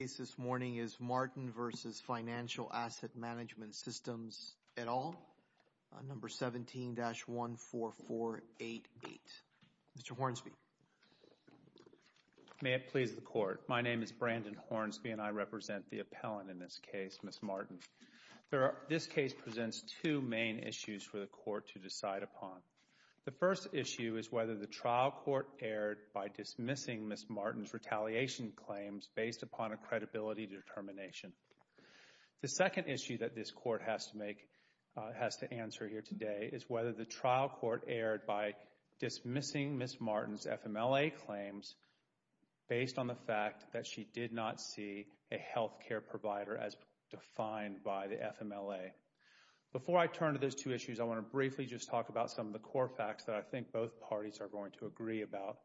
The case this morning is Martin v. Financial Asset Management Systems, et al., number 17-14488. Mr. Hornsby. May it please the Court. My name is Brandon Hornsby and I represent the appellant in this case, Ms. Martin. This case presents two main issues for the Court to decide upon. The first issue is whether the trial court erred by dismissing Ms. Martin's retaliation claims based upon a credibility determination. The second issue that this Court has to make, has to answer here today, is whether the trial court erred by dismissing Ms. Martin's FMLA claims based on the fact that she did not see a health care provider as defined by the FMLA. Before I turn to those two issues, I want to briefly just talk about some of the core facts that I think both parties are going to agree about.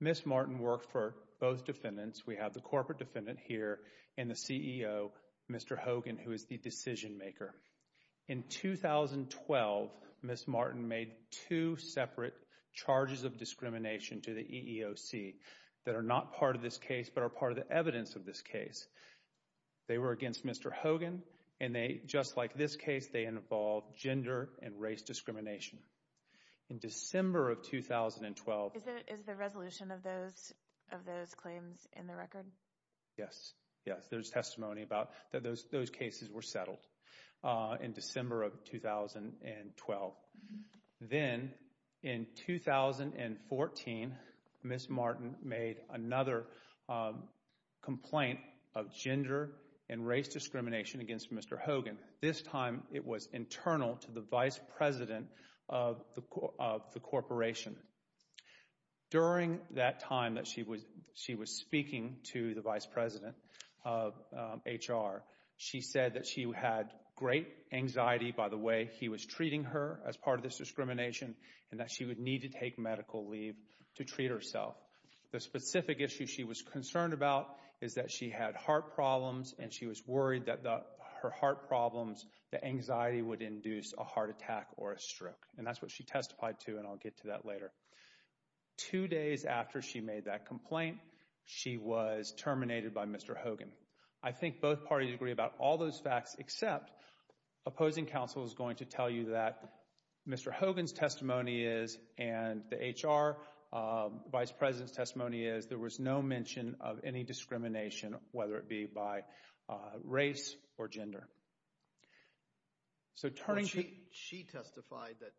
Ms. Martin worked for both defendants. We have the corporate defendant here and the CEO, Mr. Hogan, who is the decision maker. In 2012, Ms. Martin made two separate charges of discrimination to the EEOC that are not part of this case but are part of the evidence of this case. They were against Mr. Hogan and they, just like this case, they involve gender and race discrimination. In December of 2012— Is the resolution of those claims in the record? Yes. Yes, there's testimony about that those cases were settled in December of 2012. Then, in 2014, Ms. Martin made another complaint of gender and race discrimination against Mr. Hogan. This time, it was internal to the vice president of the corporation. During that time that she was speaking to the vice president of HR, she said that she had great anxiety by the way he was treating her as part of this discrimination and that she would need to take medical leave to treat herself. The specific issue she was concerned about is that she had heart problems and she was worried that her heart problems, the anxiety would induce a heart attack or a stroke and that's what she testified to and I'll get to that later. Two days after she made that complaint, she was terminated by Mr. Hogan. I think both parties agree about all those facts except opposing counsel is going to tell you that Mr. Hogan's testimony is and the HR vice president's testimony is there was no mention of any discrimination whether it be by race or gender. She testified that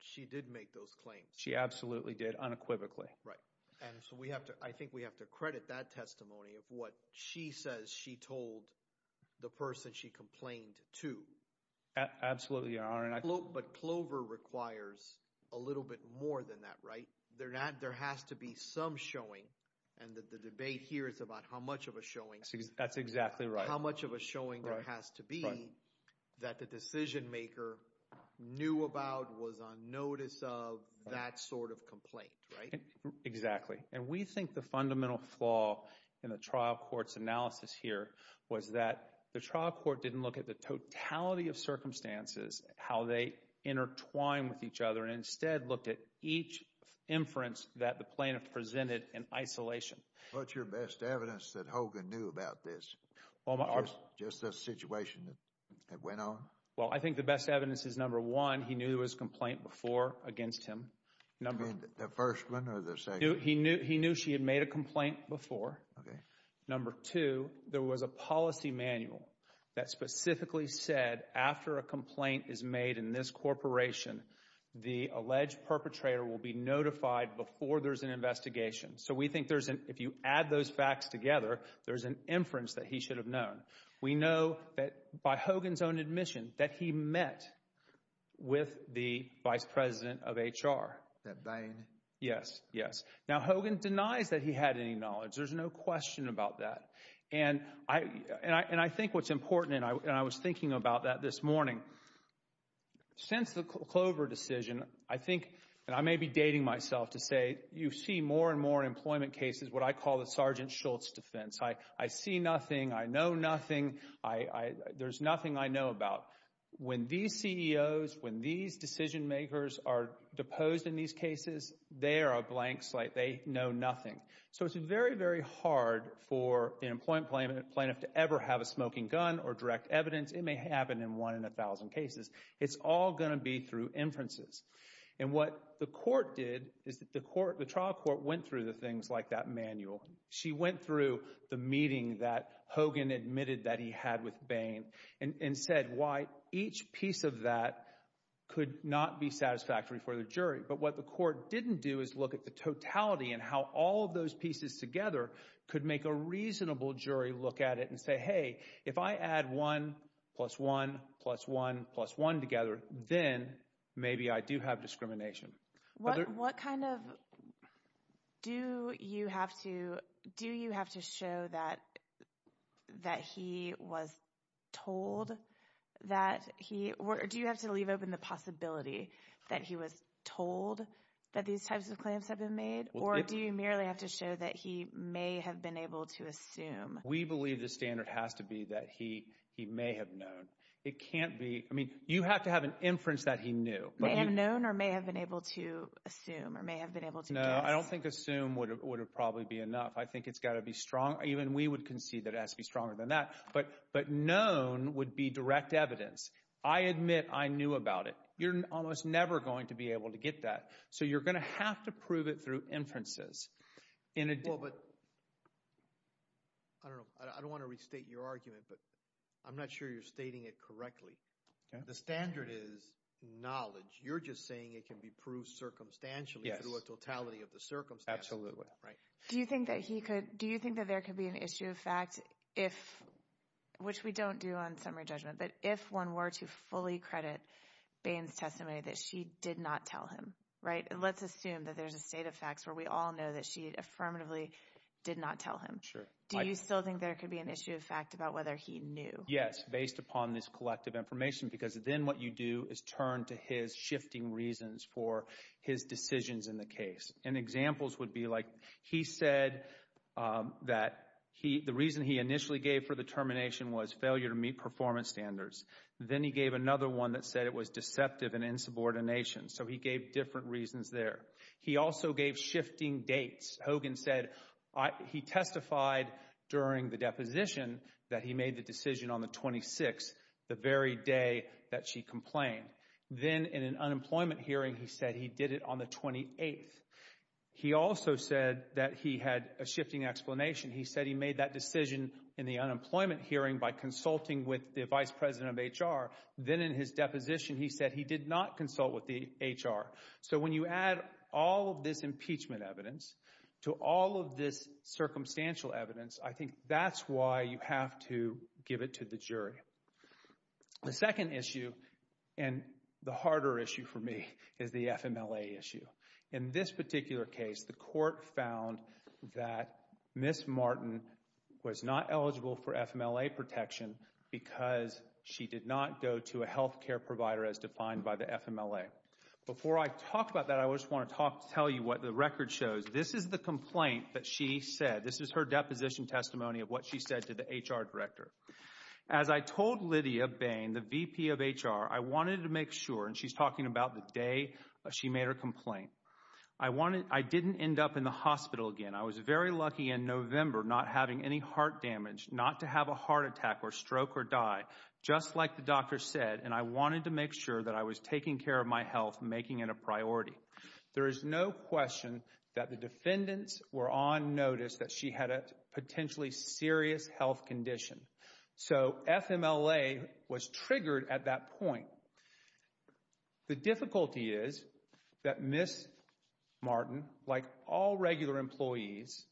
she did make those claims. She absolutely did unequivocally. I think we have to credit that testimony of what she says she told the person she complained to. Absolutely, Your Honor. But Clover requires a little bit more than that, right? There has to be some showing and the debate here is about how much of a showing. That's exactly right. How much of a showing there has to be that the decision maker knew about, was on notice of that sort of complaint, right? Exactly. And we think the fundamental flaw in the trial court's analysis here was that the trial court didn't look at the totality of circumstances, how they intertwine with each other, and instead looked at each inference that the plaintiff presented in isolation. What's your best evidence that Hogan knew about this? Just the situation that went on? Well, I think the best evidence is, number one, he knew there was a complaint before against him. You mean the first one or the second? He knew she had made a complaint before. Okay. And, number two, there was a policy manual that specifically said after a complaint is made in this corporation, the alleged perpetrator will be notified before there's an investigation. So we think if you add those facts together, there's an inference that he should have known. We know that by Hogan's own admission that he met with the vice president of HR. That Bain? Yes, yes. Now, Hogan denies that he had any knowledge. There's no question about that. And I think what's important, and I was thinking about that this morning, since the Clover decision, I think, and I may be dating myself to say, you see more and more employment cases, what I call the Sergeant Schultz defense. I see nothing. I know nothing. There's nothing I know about. When these CEOs, when these decision makers are deposed in these cases, they are a blank slate. They know nothing. So it's very, very hard for an employment plaintiff to ever have a smoking gun or direct evidence. It may happen in one in a thousand cases. It's all going to be through inferences. And what the court did is the trial court went through the things like that manual. She went through the meeting that Hogan admitted that he had with Bain and said why each piece of that could not be satisfactory for the jury. But what the court didn't do is look at the totality and how all of those pieces together could make a reasonable jury look at it and say, hey, if I add one plus one plus one plus one together, then maybe I do have discrimination. What kind of—do you have to show that he was told that he— or do you have to leave open the possibility that he was told that these types of claims have been made? Or do you merely have to show that he may have been able to assume? We believe the standard has to be that he may have known. It can't be—I mean, you have to have an inference that he knew. May have known or may have been able to assume or may have been able to guess. No, I don't think assume would probably be enough. I think it's got to be strong. Even we would concede that it has to be stronger than that. But known would be direct evidence. I admit I knew about it. You're almost never going to be able to get that. So you're going to have to prove it through inferences. Well, but—I don't know. I don't want to restate your argument, but I'm not sure you're stating it correctly. The standard is knowledge. You're just saying it can be proved circumstantially through a totality of the circumstances. Absolutely. Do you think that he could—do you think that there could be an issue of fact if— which we don't do on summary judgment, but if one were to fully credit Bain's testimony that she did not tell him, right? Let's assume that there's a state of facts where we all know that she affirmatively did not tell him. Sure. Do you still think there could be an issue of fact about whether he knew? Yes, based upon this collective information, because then what you do is turn to his shifting reasons for his decisions in the case. And examples would be like he said that the reason he initially gave for the termination was failure to meet performance standards. Then he gave another one that said it was deceptive and insubordination. So he gave different reasons there. He also gave shifting dates. Hogan said he testified during the deposition that he made the decision on the 26th, the very day that she complained. Then in an unemployment hearing, he said he did it on the 28th. He also said that he had a shifting explanation. He said he made that decision in the unemployment hearing by consulting with the vice president of HR. Then in his deposition, he said he did not consult with the HR. So when you add all of this impeachment evidence to all of this circumstantial evidence, I think that's why you have to give it to the jury. The second issue, and the harder issue for me, is the FMLA issue. In this particular case, the court found that Ms. Martin was not eligible for FMLA protection because she did not go to a health care provider as defined by the FMLA. Before I talk about that, I just want to tell you what the record shows. This is the complaint that she said. This is her deposition testimony of what she said to the HR director. As I told Lydia Bain, the VP of HR, I wanted to make sure, and she's talking about the day she made her complaint, I didn't end up in the hospital again. I was very lucky in November not having any heart damage, not to have a heart attack or stroke or die, just like the doctor said, and I wanted to make sure that I was taking care of my health, making it a priority. There is no question that the defendants were on notice that she had a potentially serious health condition. So FMLA was triggered at that point. The difficulty is that Ms. Martin, like all regular employees,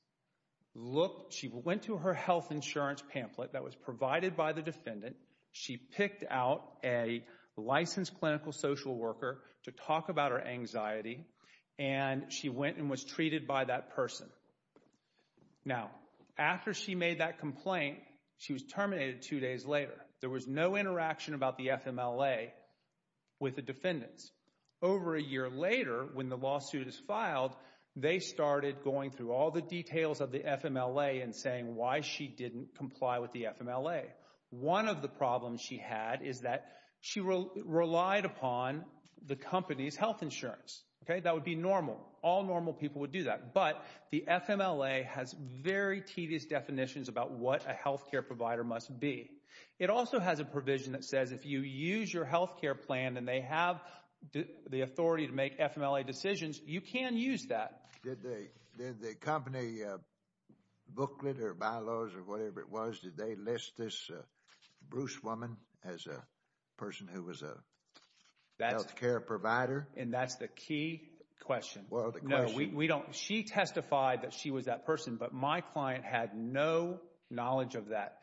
she went to her health insurance pamphlet that was provided by the defendant. She picked out a licensed clinical social worker to talk about her anxiety, and she went and was treated by that person. Now, after she made that complaint, she was terminated two days later. There was no interaction about the FMLA with the defendants. Over a year later, when the lawsuit is filed, they started going through all the details of the FMLA and saying why she didn't comply with the FMLA. One of the problems she had is that she relied upon the company's health insurance. That would be normal. All normal people would do that. But the FMLA has very tedious definitions about what a health care provider must be. It also has a provision that says if you use your health care plan, and they have the authority to make FMLA decisions, you can use that. Did the company booklet or bylaws or whatever it was, did they list this Bruce woman as a person who was a health care provider? And that's the key question. No, we don't. She testified that she was that person, but my client had no knowledge of that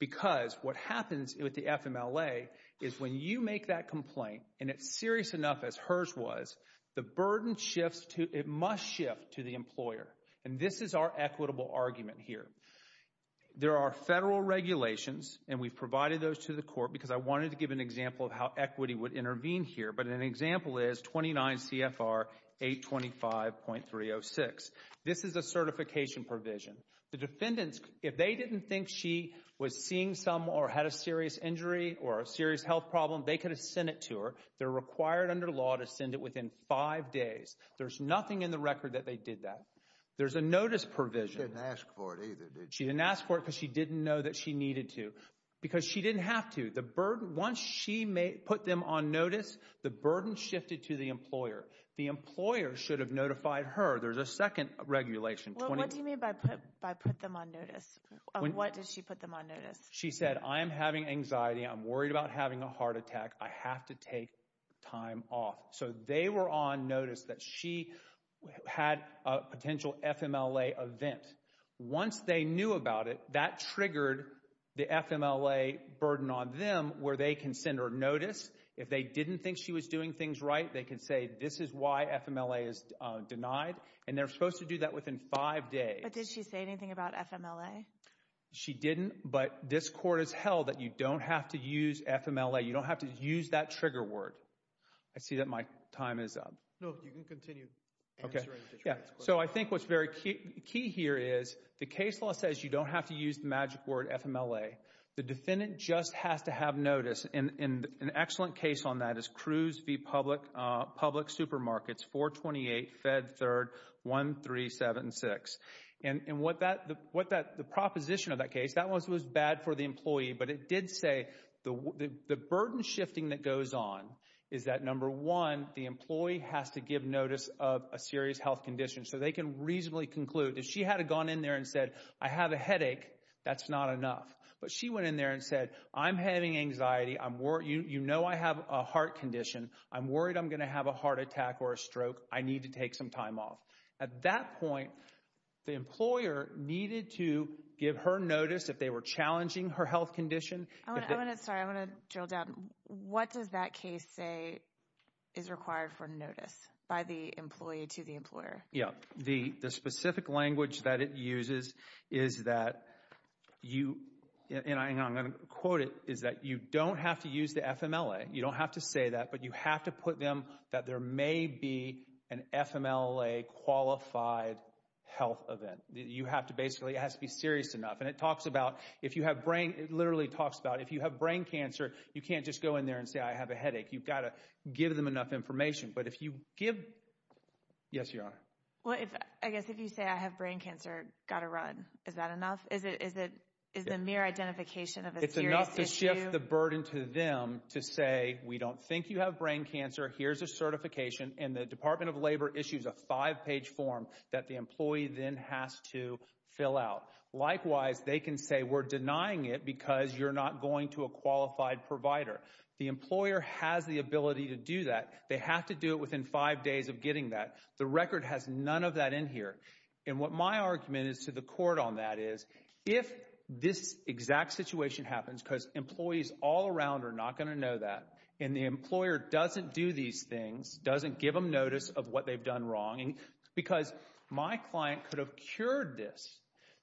because what happens with the FMLA is when you make that complaint, and it's serious enough as hers was, the burden shifts to, it must shift to the employer. And this is our equitable argument here. There are federal regulations, and we've provided those to the court because I wanted to give an example of how equity would intervene here. But an example is 29 CFR 825.306. This is a certification provision. The defendants, if they didn't think she was seeing some or had a serious injury or a serious health problem, they could have sent it to her. They're required under law to send it within five days. There's nothing in the record that they did that. There's a notice provision. She didn't ask for it either, did she? She didn't ask for it because she didn't know that she needed to. Because she didn't have to. Once she put them on notice, the burden shifted to the employer. The employer should have notified her. There's a second regulation. What do you mean by put them on notice? What did she put them on notice? She said, I am having anxiety. I'm worried about having a heart attack. I have to take time off. So they were on notice that she had a potential FMLA event. Once they knew about it, that triggered the FMLA burden on them where they can send her notice. If they didn't think she was doing things right, they can say, this is why FMLA is denied. And they're supposed to do that within five days. But did she say anything about FMLA? She didn't, but this court has held that you don't have to use FMLA. You don't have to use that trigger word. I see that my time is up. No, you can continue answering. So I think what's very key here is the case law says you don't have to use the magic word FMLA. The defendant just has to have notice. And an excellent case on that is Cruz v. Public Supermarkets, 428 Fed 3rd 1376. And the proposition of that case, that was bad for the employee, but it did say the burden shifting that goes on is that, number one, the employee has to give notice of a serious health condition so they can reasonably conclude. If she had gone in there and said, I have a headache, that's not enough. But she went in there and said, I'm having anxiety. You know I have a heart condition. I'm worried I'm going to have a heart attack or a stroke. I need to take some time off. At that point, the employer needed to give her notice if they were challenging her health condition. Sorry, I want to drill down. What does that case say is required for notice by the employee to the employer? Yeah, the specific language that it uses is that you, and I'm going to quote it, is that you don't have to use the FMLA. You don't have to say that, but you have to put them that there may be an FMLA qualified health event. You have to basically, it has to be serious enough. And it talks about if you have brain, it literally talks about if you have brain cancer, you can't just go in there and say, I have a headache. You've got to give them enough information. But if you give, yes, Your Honor. Well, I guess if you say I have brain cancer, got to run. Is that enough? Is the mere identification of a serious issue? It's enough to shift the burden to them to say we don't think you have brain cancer. Here's a certification. And the Department of Labor issues a five-page form that the employee then has to fill out. Likewise, they can say we're denying it because you're not going to a qualified provider. The employer has the ability to do that. They have to do it within five days of getting that. The record has none of that in here. And what my argument is to the court on that is if this exact situation happens, because employees all around are not going to know that, and the employer doesn't do these things, doesn't give them notice of what they've done wrong, because my client could have cured this.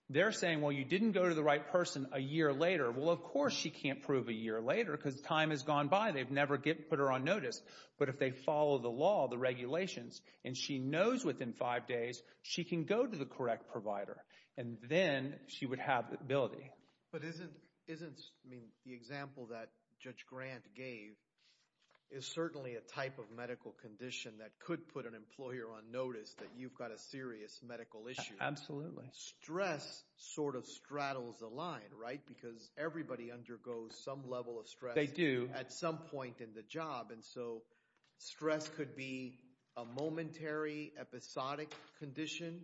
They're saying, well, you didn't go to the right person a year later. Well, of course she can't prove a year later because time has gone by. They've never put her on notice. But if they follow the law, the regulations, and she knows within five days she can go to the correct provider, and then she would have the ability. But isn't the example that Judge Grant gave is certainly a type of medical condition that could put an employer on notice that you've got a serious medical issue. Absolutely. Stress sort of straddles the line, right, because everybody undergoes some level of stress at some point in the job. And so stress could be a momentary, episodic condition.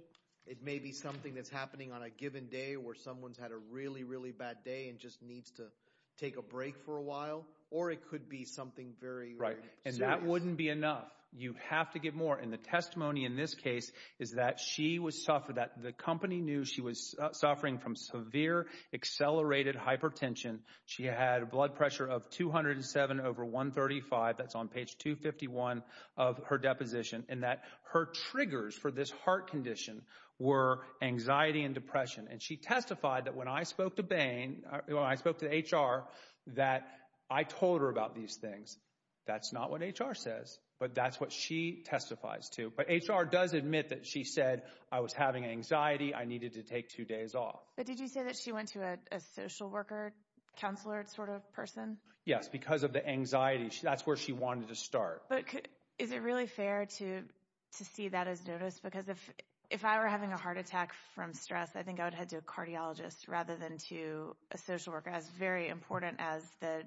It may be something that's happening on a given day where someone's had a really, really bad day and just needs to take a break for a while. Or it could be something very serious. Right, and that wouldn't be enough. You have to get more. And the testimony in this case is that the company knew she was suffering from severe accelerated hypertension. She had a blood pressure of 207 over 135. That's on page 251 of her deposition. And that her triggers for this heart condition were anxiety and depression. And she testified that when I spoke to Bain, when I spoke to HR, that I told her about these things. That's not what HR says, but that's what she testifies to. But HR does admit that she said, I was having anxiety. I needed to take two days off. But did you say that she went to a social worker counselor sort of person? Yes, because of the anxiety. That's where she wanted to start. But is it really fair to see that as noticed? Because if I were having a heart attack from stress, I think I would head to a cardiologist rather than to a social worker, as very important as the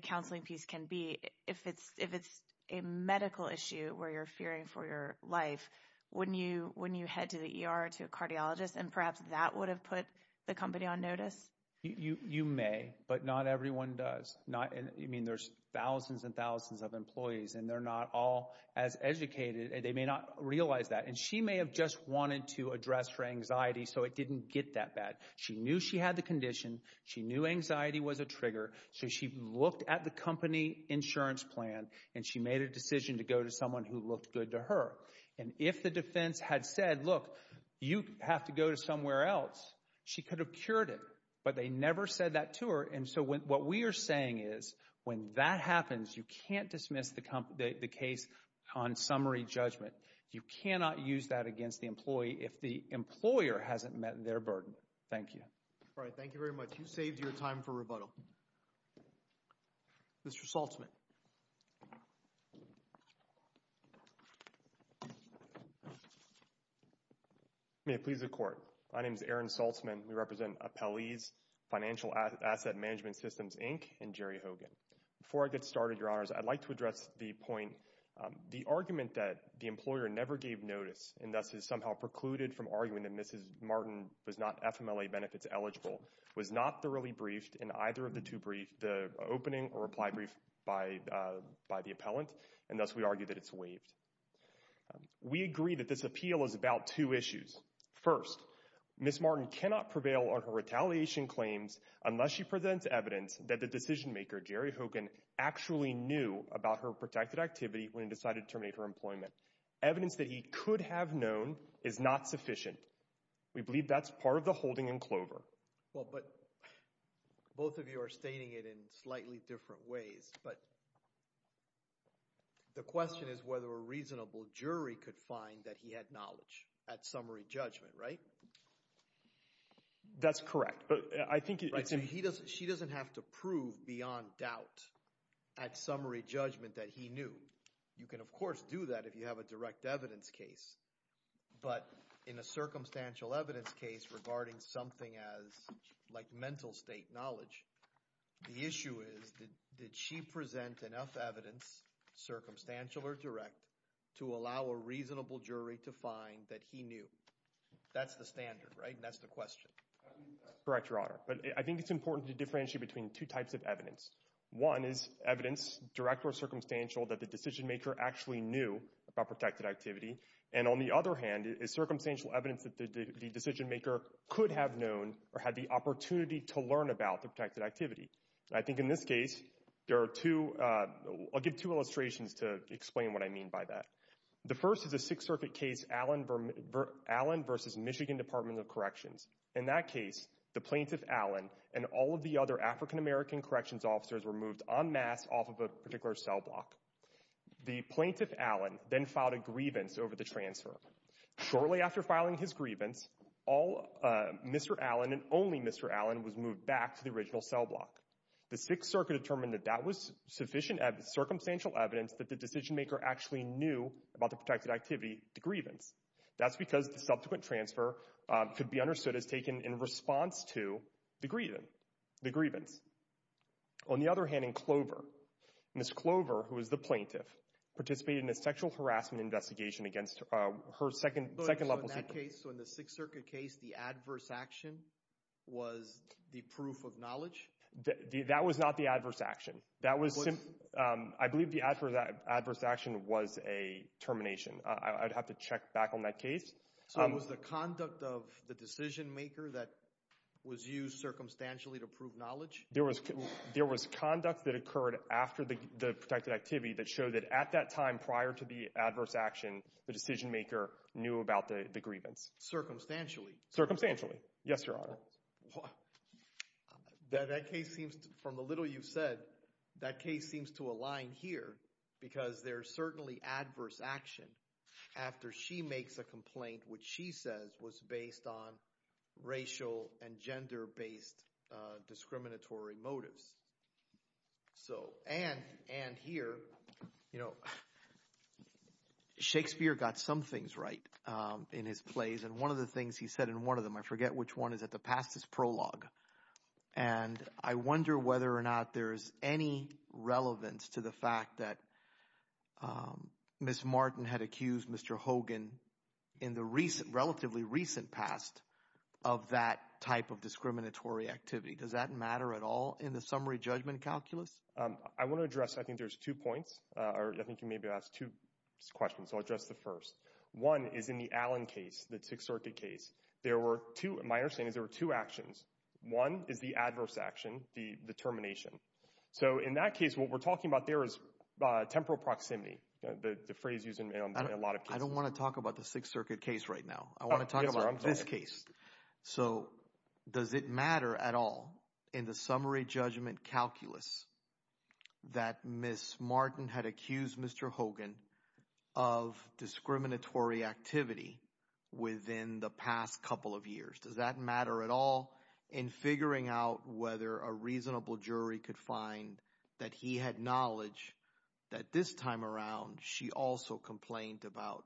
counseling piece can be. If it's a medical issue where you're fearing for your life, wouldn't you head to the ER to a cardiologist? And perhaps that would have put the company on notice? You may, but not everyone does. I mean, there's thousands and thousands of employees, and they're not all as educated. They may not realize that. And she may have just wanted to address her anxiety so it didn't get that bad. She knew she had the condition. She knew anxiety was a trigger. So she looked at the company insurance plan, and she made a decision to go to someone who looked good to her. And if the defense had said, look, you have to go to somewhere else, she could have cured it. But they never said that to her. And so what we are saying is when that happens, you can't dismiss the case on summary judgment. You cannot use that against the employee if the employer hasn't met their burden. Thank you. All right, thank you very much. You saved your time for rebuttal. Mr. Saltzman. May it please the Court. My name is Aaron Saltzman. We represent Appellees Financial Asset Management Systems, Inc., and Jerry Hogan. Before I get started, Your Honors, I'd like to address the point. The argument that the employer never gave notice and thus has somehow precluded from arguing that Mrs. Martin was not FMLA benefits eligible was not thoroughly briefed in either of the two briefs, the opening or reply brief by the appellant, and thus we argue that it's waived. We agree that this appeal is about two issues. First, Mrs. Martin cannot prevail on her retaliation claims unless she presents evidence that the decision maker, Jerry Hogan, actually knew about her protected activity when he decided to terminate her employment. Evidence that he could have known is not sufficient. We believe that's part of the holding in Clover. Well, but both of you are stating it in slightly different ways, but the question is whether a reasonable jury could find that he had knowledge at summary judgment, right? That's correct, but I think it's in— She doesn't have to prove beyond doubt at summary judgment that he knew. You can, of course, do that if you have a direct evidence case, but in a circumstantial evidence case regarding something like mental state knowledge, the issue is did she present enough evidence, circumstantial or direct, to allow a reasonable jury to find that he knew? That's the standard, right, and that's the question. That's correct, Your Honor, but I think it's important to differentiate between two types of evidence. One is evidence, direct or circumstantial, that the decision maker actually knew about protected activity and, on the other hand, is circumstantial evidence that the decision maker could have known or had the opportunity to learn about the protected activity. I think in this case there are two—I'll give two illustrations to explain what I mean by that. The first is a Sixth Circuit case, Allen v. Michigan Department of Corrections. In that case, the plaintiff, Allen, and all of the other African-American corrections officers were moved en masse off of a particular cell block. The plaintiff, Allen, then filed a grievance over the transfer. Shortly after filing his grievance, Mr. Allen and only Mr. Allen was moved back to the original cell block. The Sixth Circuit determined that that was sufficient circumstantial evidence that the decision maker actually knew about the protected activity, the grievance. That's because the subsequent transfer could be understood as taken in response to the grievance. On the other hand, in Clover, Ms. Clover, who was the plaintiff, participated in a sexual harassment investigation against her second-level— So in that case, so in the Sixth Circuit case, the adverse action was the proof of knowledge? That was not the adverse action. That was—I believe the adverse action was a termination. I'd have to check back on that case. So it was the conduct of the decision maker that was used circumstantially to prove knowledge? There was conduct that occurred after the protected activity that showed that at that time, prior to the adverse action, the decision maker knew about the grievance. Circumstantially? Circumstantially, yes, Your Honor. That case seems, from the little you've said, that case seems to align here because there's certainly adverse action after she makes a complaint, which she says was based on racial and gender-based discriminatory motives. And here, you know, Shakespeare got some things right in his plays, and one of the things he said in one of them—I forget which one—is at the past his prologue. And I wonder whether or not there's any relevance to the fact that Ms. Martin had accused Mr. Hogan in the relatively recent past of that type of discriminatory activity. Does that matter at all in the summary judgment calculus? I want to address—I think there's two points, or I think you maybe asked two questions, so I'll address the first. One is in the Allen case, the Sixth Circuit case. There were two—my understanding is there were two actions. One is the adverse action, the termination. So in that case, what we're talking about there is temporal proximity, the phrase used in a lot of cases. I don't want to talk about the Sixth Circuit case right now. I want to talk about this case. So does it matter at all in the summary judgment calculus that Ms. Martin had accused Mr. Hogan of discriminatory activity within the past couple of years? Does that matter at all in figuring out whether a reasonable jury could find that he had knowledge that this time around she also complained about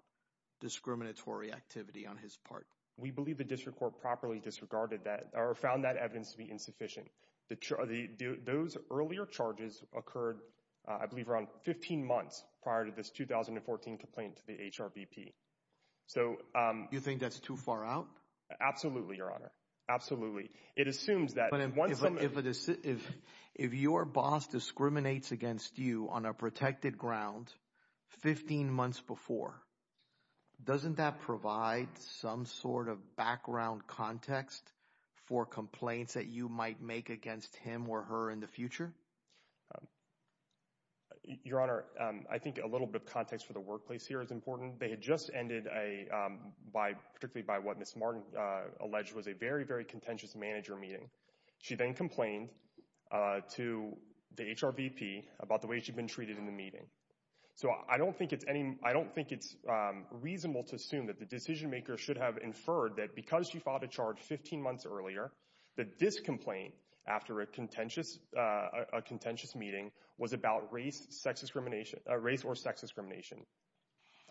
discriminatory activity on his part? We believe the district court properly disregarded that or found that evidence to be insufficient. Those earlier charges occurred, I believe, around 15 months prior to this 2014 complaint to the HRBP. So— You think that's too far out? Absolutely, Your Honor. Absolutely. It assumes that— But if your boss discriminates against you on a protected ground 15 months before, doesn't that provide some sort of background context for complaints that you might make against him or her in the future? Your Honor, I think a little bit of context for the workplace here is important. They had just ended a—particularly by what Ms. Martin alleged was a very, very contentious manager meeting. She then complained to the HRBP about the way she'd been treated in the meeting. So I don't think it's reasonable to assume that the decision-maker should have inferred that because she filed a charge 15 months earlier, that this complaint after a contentious meeting was about race or sex discrimination.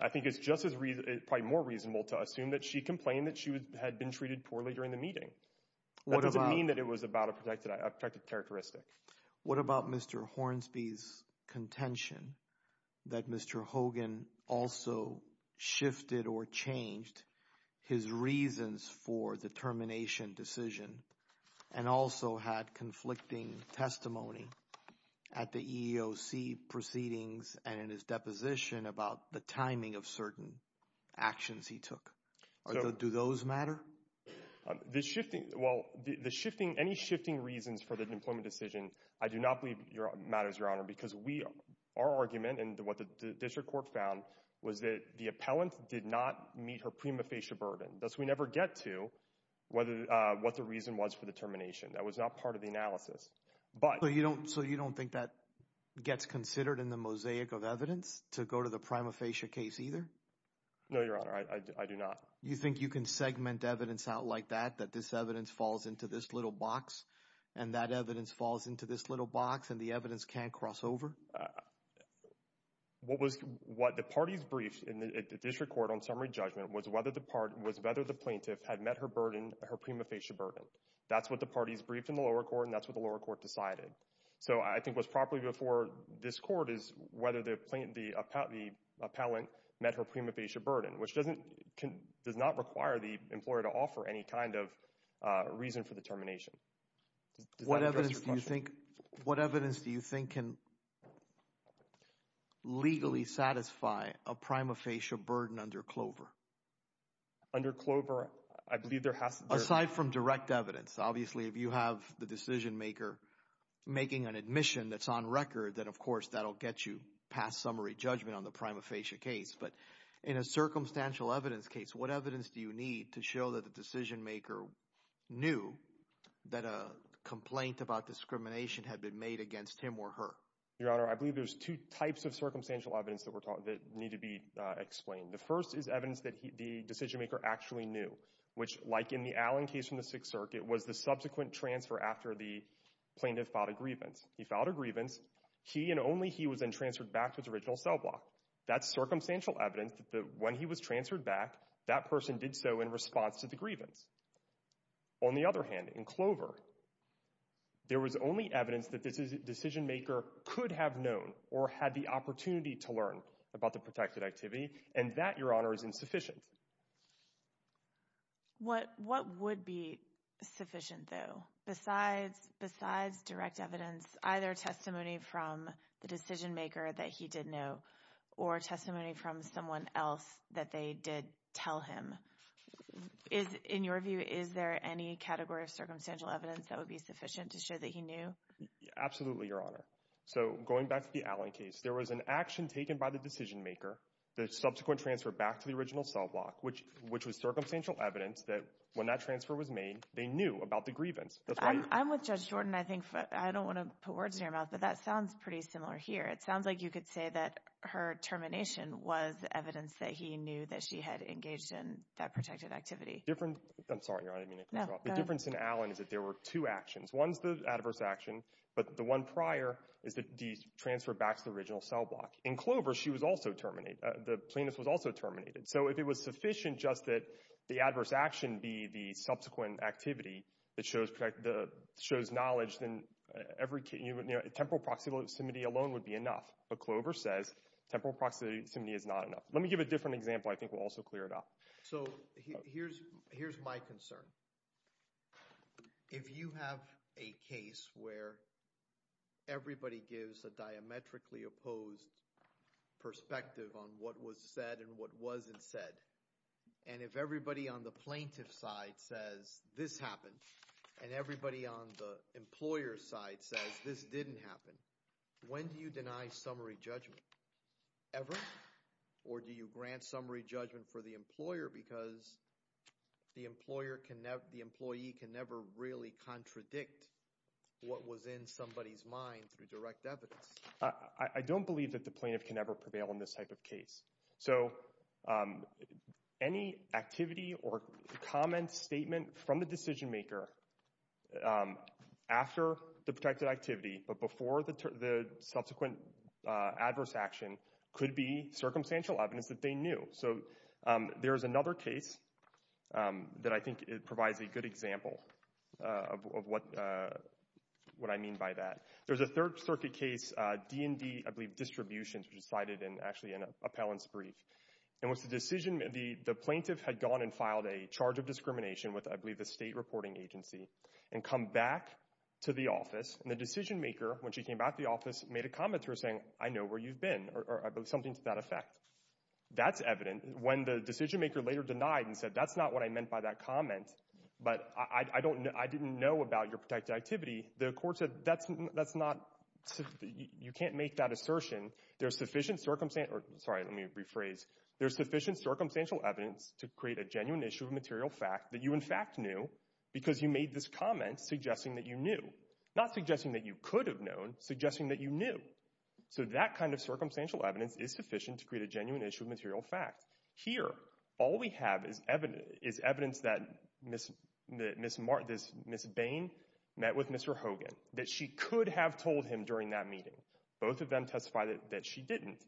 I think it's just as—probably more reasonable to assume that she complained that she had been treated poorly during the meeting. That doesn't mean that it was about a protected characteristic. What about Mr. Hornsby's contention that Mr. Hogan also shifted or changed his reasons for the termination decision and also had conflicting testimony at the EEOC proceedings and in his deposition about the timing of certain actions he took? Do those matter? The shifting—well, the shifting—any shifting reasons for the employment decision, I do not believe matters, Your Honor, because we—our argument and what the district court found was that the appellant did not meet her prima facie burden. Thus, we never get to what the reason was for the termination. That was not part of the analysis. So you don't think that gets considered in the mosaic of evidence to go to the prima facie case either? No, Your Honor. I do not. You think you can segment evidence out like that, that this evidence falls into this little box and that evidence falls into this little box and the evidence can't cross over? What was—what the parties briefed in the district court on summary judgment was whether the plaintiff had met her burden, her prima facie burden. That's what the parties briefed in the lower court, and that's what the lower court decided. So I think what's properly before this court is whether the plaintiff—the appellant met her prima facie burden, which doesn't—does not require the employer to offer any kind of reason for the termination. What evidence do you think—what evidence do you think can legally satisfy a prima facie burden under Clover? Under Clover, I believe there has to be— if you're making an admission that's on record, then, of course, that'll get you past summary judgment on the prima facie case. But in a circumstantial evidence case, what evidence do you need to show that the decision-maker knew that a complaint about discrimination had been made against him or her? Your Honor, I believe there's two types of circumstantial evidence that need to be explained. The first is evidence that the decision-maker actually knew, which, like in the Allen case in the Sixth Circuit, was the subsequent transfer after the plaintiff filed a grievance. He filed a grievance. He and only he was then transferred back to his original cell block. That's circumstantial evidence that when he was transferred back, that person did so in response to the grievance. On the other hand, in Clover, there was only evidence that the decision-maker could have known or had the opportunity to learn about the protected activity, and that, Your Honor, is insufficient. What would be sufficient, though, besides direct evidence, either testimony from the decision-maker that he did know or testimony from someone else that they did tell him? In your view, is there any category of circumstantial evidence that would be sufficient to show that he knew? Absolutely, Your Honor. So going back to the Allen case, there was an action taken by the decision-maker, the subsequent transfer back to the original cell block, which was circumstantial evidence that when that transfer was made, they knew about the grievance. I'm with Judge Jordan. I don't want to put words in your mouth, but that sounds pretty similar here. It sounds like you could say that her termination was evidence that he knew that she had engaged in that protected activity. I'm sorry, Your Honor, I didn't mean to interrupt. The difference in Allen is that there were two actions. One is the adverse action, but the one prior is the transfer back to the original cell block. In Clover, she was also terminated. The plaintiff was also terminated. So if it was sufficient just that the adverse action be the subsequent activity that shows knowledge, then temporal proximity alone would be enough. But Clover says temporal proximity is not enough. Let me give a different example. I think we'll also clear it up. So here's my concern. If you have a case where everybody gives a diametrically opposed perspective on what was said and what wasn't said, and if everybody on the plaintiff's side says this happened and everybody on the employer's side says this didn't happen, when do you deny summary judgment? Ever? Or do you grant summary judgment for the employer because the employee can never really contradict what was in somebody's mind through direct evidence? I don't believe that the plaintiff can ever prevail in this type of case. So any activity or comment statement from the decision maker after the protected activity but before the subsequent adverse action could be circumstantial evidence that they knew. So there is another case that I think provides a good example of what I mean by that. There's a Third Circuit case, D&D, I believe, Distributions, which was cited actually in an appellant's brief. And the plaintiff had gone and filed a charge of discrimination with, I believe, the state reporting agency and come back to the office, and the decision maker, when she came back to the office, made a comment to her saying, I know where you've been, or something to that effect. That's evident. When the decision maker later denied and said, that's not what I meant by that comment, but I didn't know about your protected activity, the court said, you can't make that assertion. There's sufficient circumstantial evidence to create a genuine issue of material fact that you, in fact, knew because you made this comment suggesting that you knew, not suggesting that you could have known, suggesting that you knew. So that kind of circumstantial evidence is sufficient to create a genuine issue of material fact. Here, all we have is evidence that Ms. Bain met with Mr. Hogan, that she could have told him during that meeting. Both of them testify that she didn't,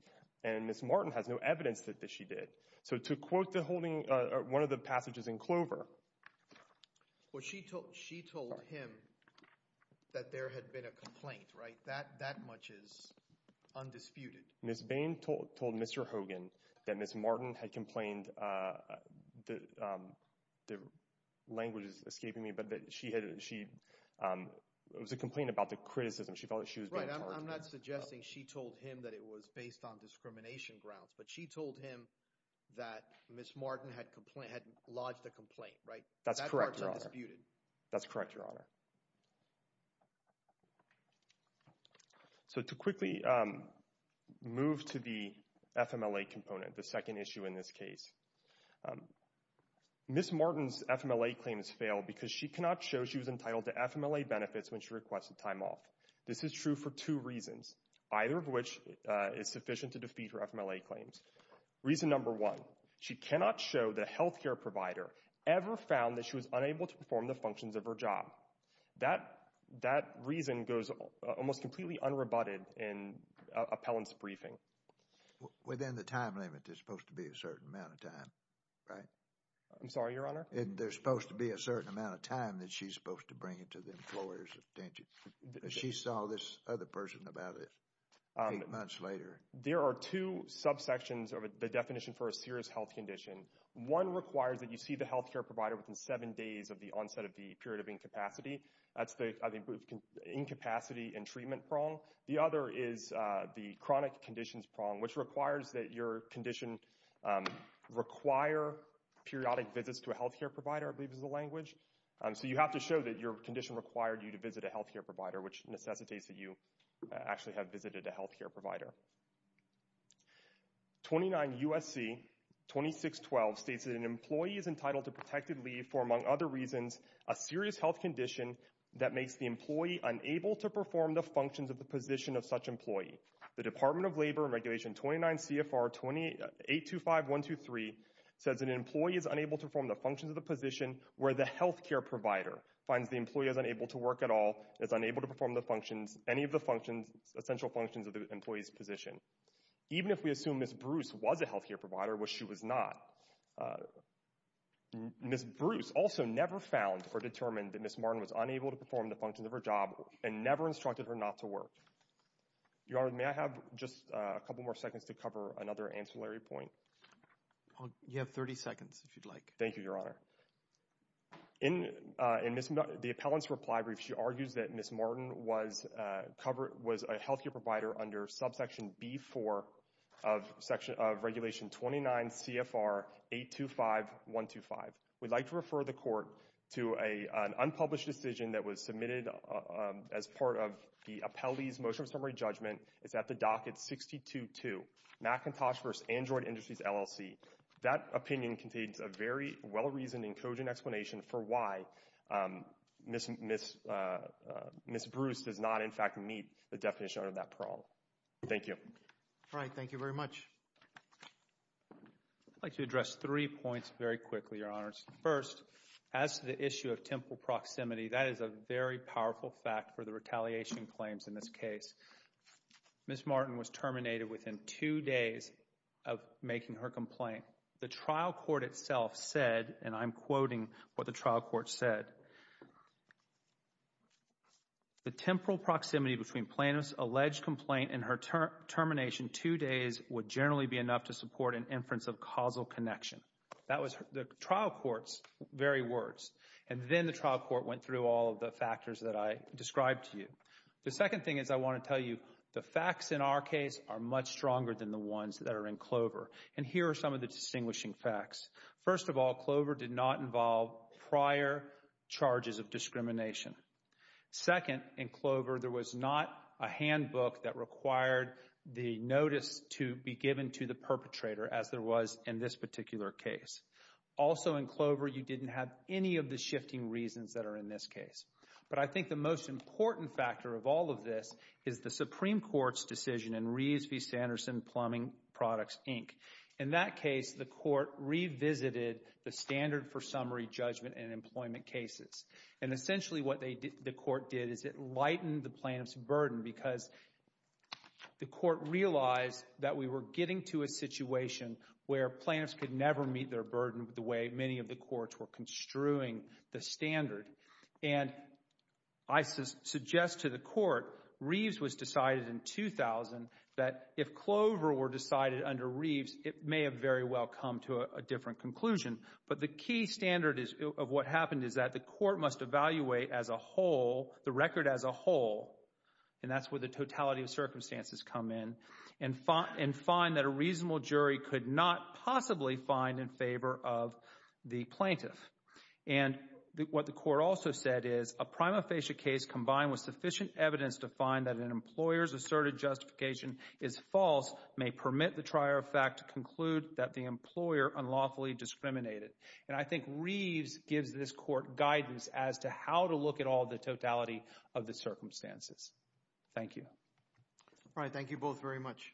and Ms. Martin has no evidence that she did. So to quote one of the passages in Clover. Well, she told him that there had been a complaint, right? That much is undisputed. Ms. Bain told Mr. Hogan that Ms. Martin had complained, the language is escaping me, but that she had, it was a complaint about the criticism. She felt that she was being targeted. Right, I'm not suggesting she told him that it was based on discrimination grounds, but she told him that Ms. Martin had lodged a complaint, right? That's correct, Your Honor. That much is undisputed. That's correct, Your Honor. So to quickly move to the FMLA component, the second issue in this case. Ms. Martin's FMLA claim has failed because she cannot show she was entitled to FMLA benefits when she requested time off. This is true for two reasons, either of which is sufficient to defeat her FMLA claims. Reason number one, she cannot show the health care provider ever found that she was unable to perform the functions of her job. That reason goes almost completely unrebutted in appellant's briefing. Within the time limit, there's supposed to be a certain amount of time, right? I'm sorry, Your Honor? There's supposed to be a certain amount of time that she's supposed to bring it to the employer's attention. She saw this other person about it eight months later. There are two subsections of the definition for a serious health condition. One requires that you see the health care provider within seven days of the onset of the period of incapacity. That's the incapacity and treatment prong. The other is the chronic conditions prong, which requires that your condition require periodic visits to a health care provider, I believe is the language. So you have to show that your condition required you to visit a health care provider, which necessitates that you actually have visited a health care provider. 29 U.S.C. 2612 states that an employee is entitled to protected leave for, among other reasons, a serious health condition that makes the employee unable to perform the functions of the position of such employee. The Department of Labor Regulation 29 CFR 2825123 says an employee is unable to perform the functions of the position where the health care provider finds the employee is unable to work at all, is unable to perform the functions, any of the functions, essential functions of the employee's position. Even if we assume Ms. Bruce was a health care provider, which she was not, Ms. Bruce also never found or determined that Ms. Martin was unable to perform the functions of her job and never instructed her not to work. Your Honor, may I have just a couple more seconds to cover another ancillary point? You have 30 seconds, if you'd like. Thank you, Your Honor. In the appellant's reply brief, she argues that Ms. Martin was a health care provider under subsection B-4 of regulation 29 CFR 825125. We'd like to refer the court to an unpublished decision that was submitted as part of the appellee's motion of summary judgment. It's at the docket 622, McIntosh v. Android Industries, LLC. That opinion contains a very well-reasoned and cogent explanation for why Ms. Bruce does not, in fact, meet the definition of that prong. Thank you. All right, thank you very much. I'd like to address three points very quickly, Your Honors. First, as to the issue of temple proximity, that is a very powerful fact for the retaliation claims in this case. Ms. Martin was terminated within two days of making her complaint. The trial court itself said, and I'm quoting what the trial court said, the temporal proximity between plaintiff's alleged complaint and her termination two days would generally be enough to support an inference of causal connection. That was the trial court's very words. And then the trial court went through all of the factors that I described to you. The second thing is I want to tell you the facts in our case are much stronger than the ones that are in Clover. And here are some of the distinguishing facts. First of all, Clover did not involve prior charges of discrimination. Second, in Clover, there was not a handbook that required the notice to be given to the perpetrator as there was in this particular case. Also, in Clover, you didn't have any of the shifting reasons that are in this case. But I think the most important factor of all of this is the Supreme Court's decision in Reeves v. Sanderson Plumbing Products, Inc. In that case, the court revisited the standard for summary judgment in employment cases. And essentially what the court did is it lightened the plaintiff's burden because the court realized that we were getting to a situation where plaintiffs could never meet their burden the way many of the courts were construing the standard. And I suggest to the court, Reeves was decided in 2000, that if Clover were decided under Reeves, it may have very well come to a different conclusion. But the key standard of what happened is that the court must evaluate as a whole, the record as a whole, and that's where the totality of circumstances come in, and find that a reasonable jury could not possibly find in favor of the plaintiff. And what the court also said is, a prima facie case combined with sufficient evidence to find that an employer's asserted justification is false may permit the trier of fact to conclude that the employer unlawfully discriminated. And I think Reeves gives this court guidance as to how to look at all the totality of the circumstances. Thank you. All right. Thank you both very much.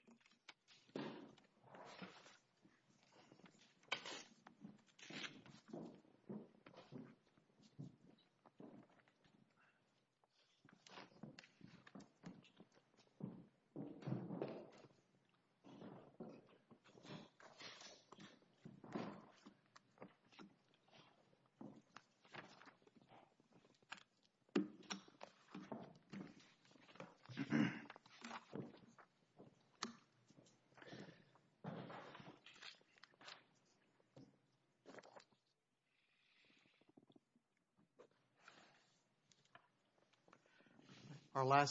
Thank you.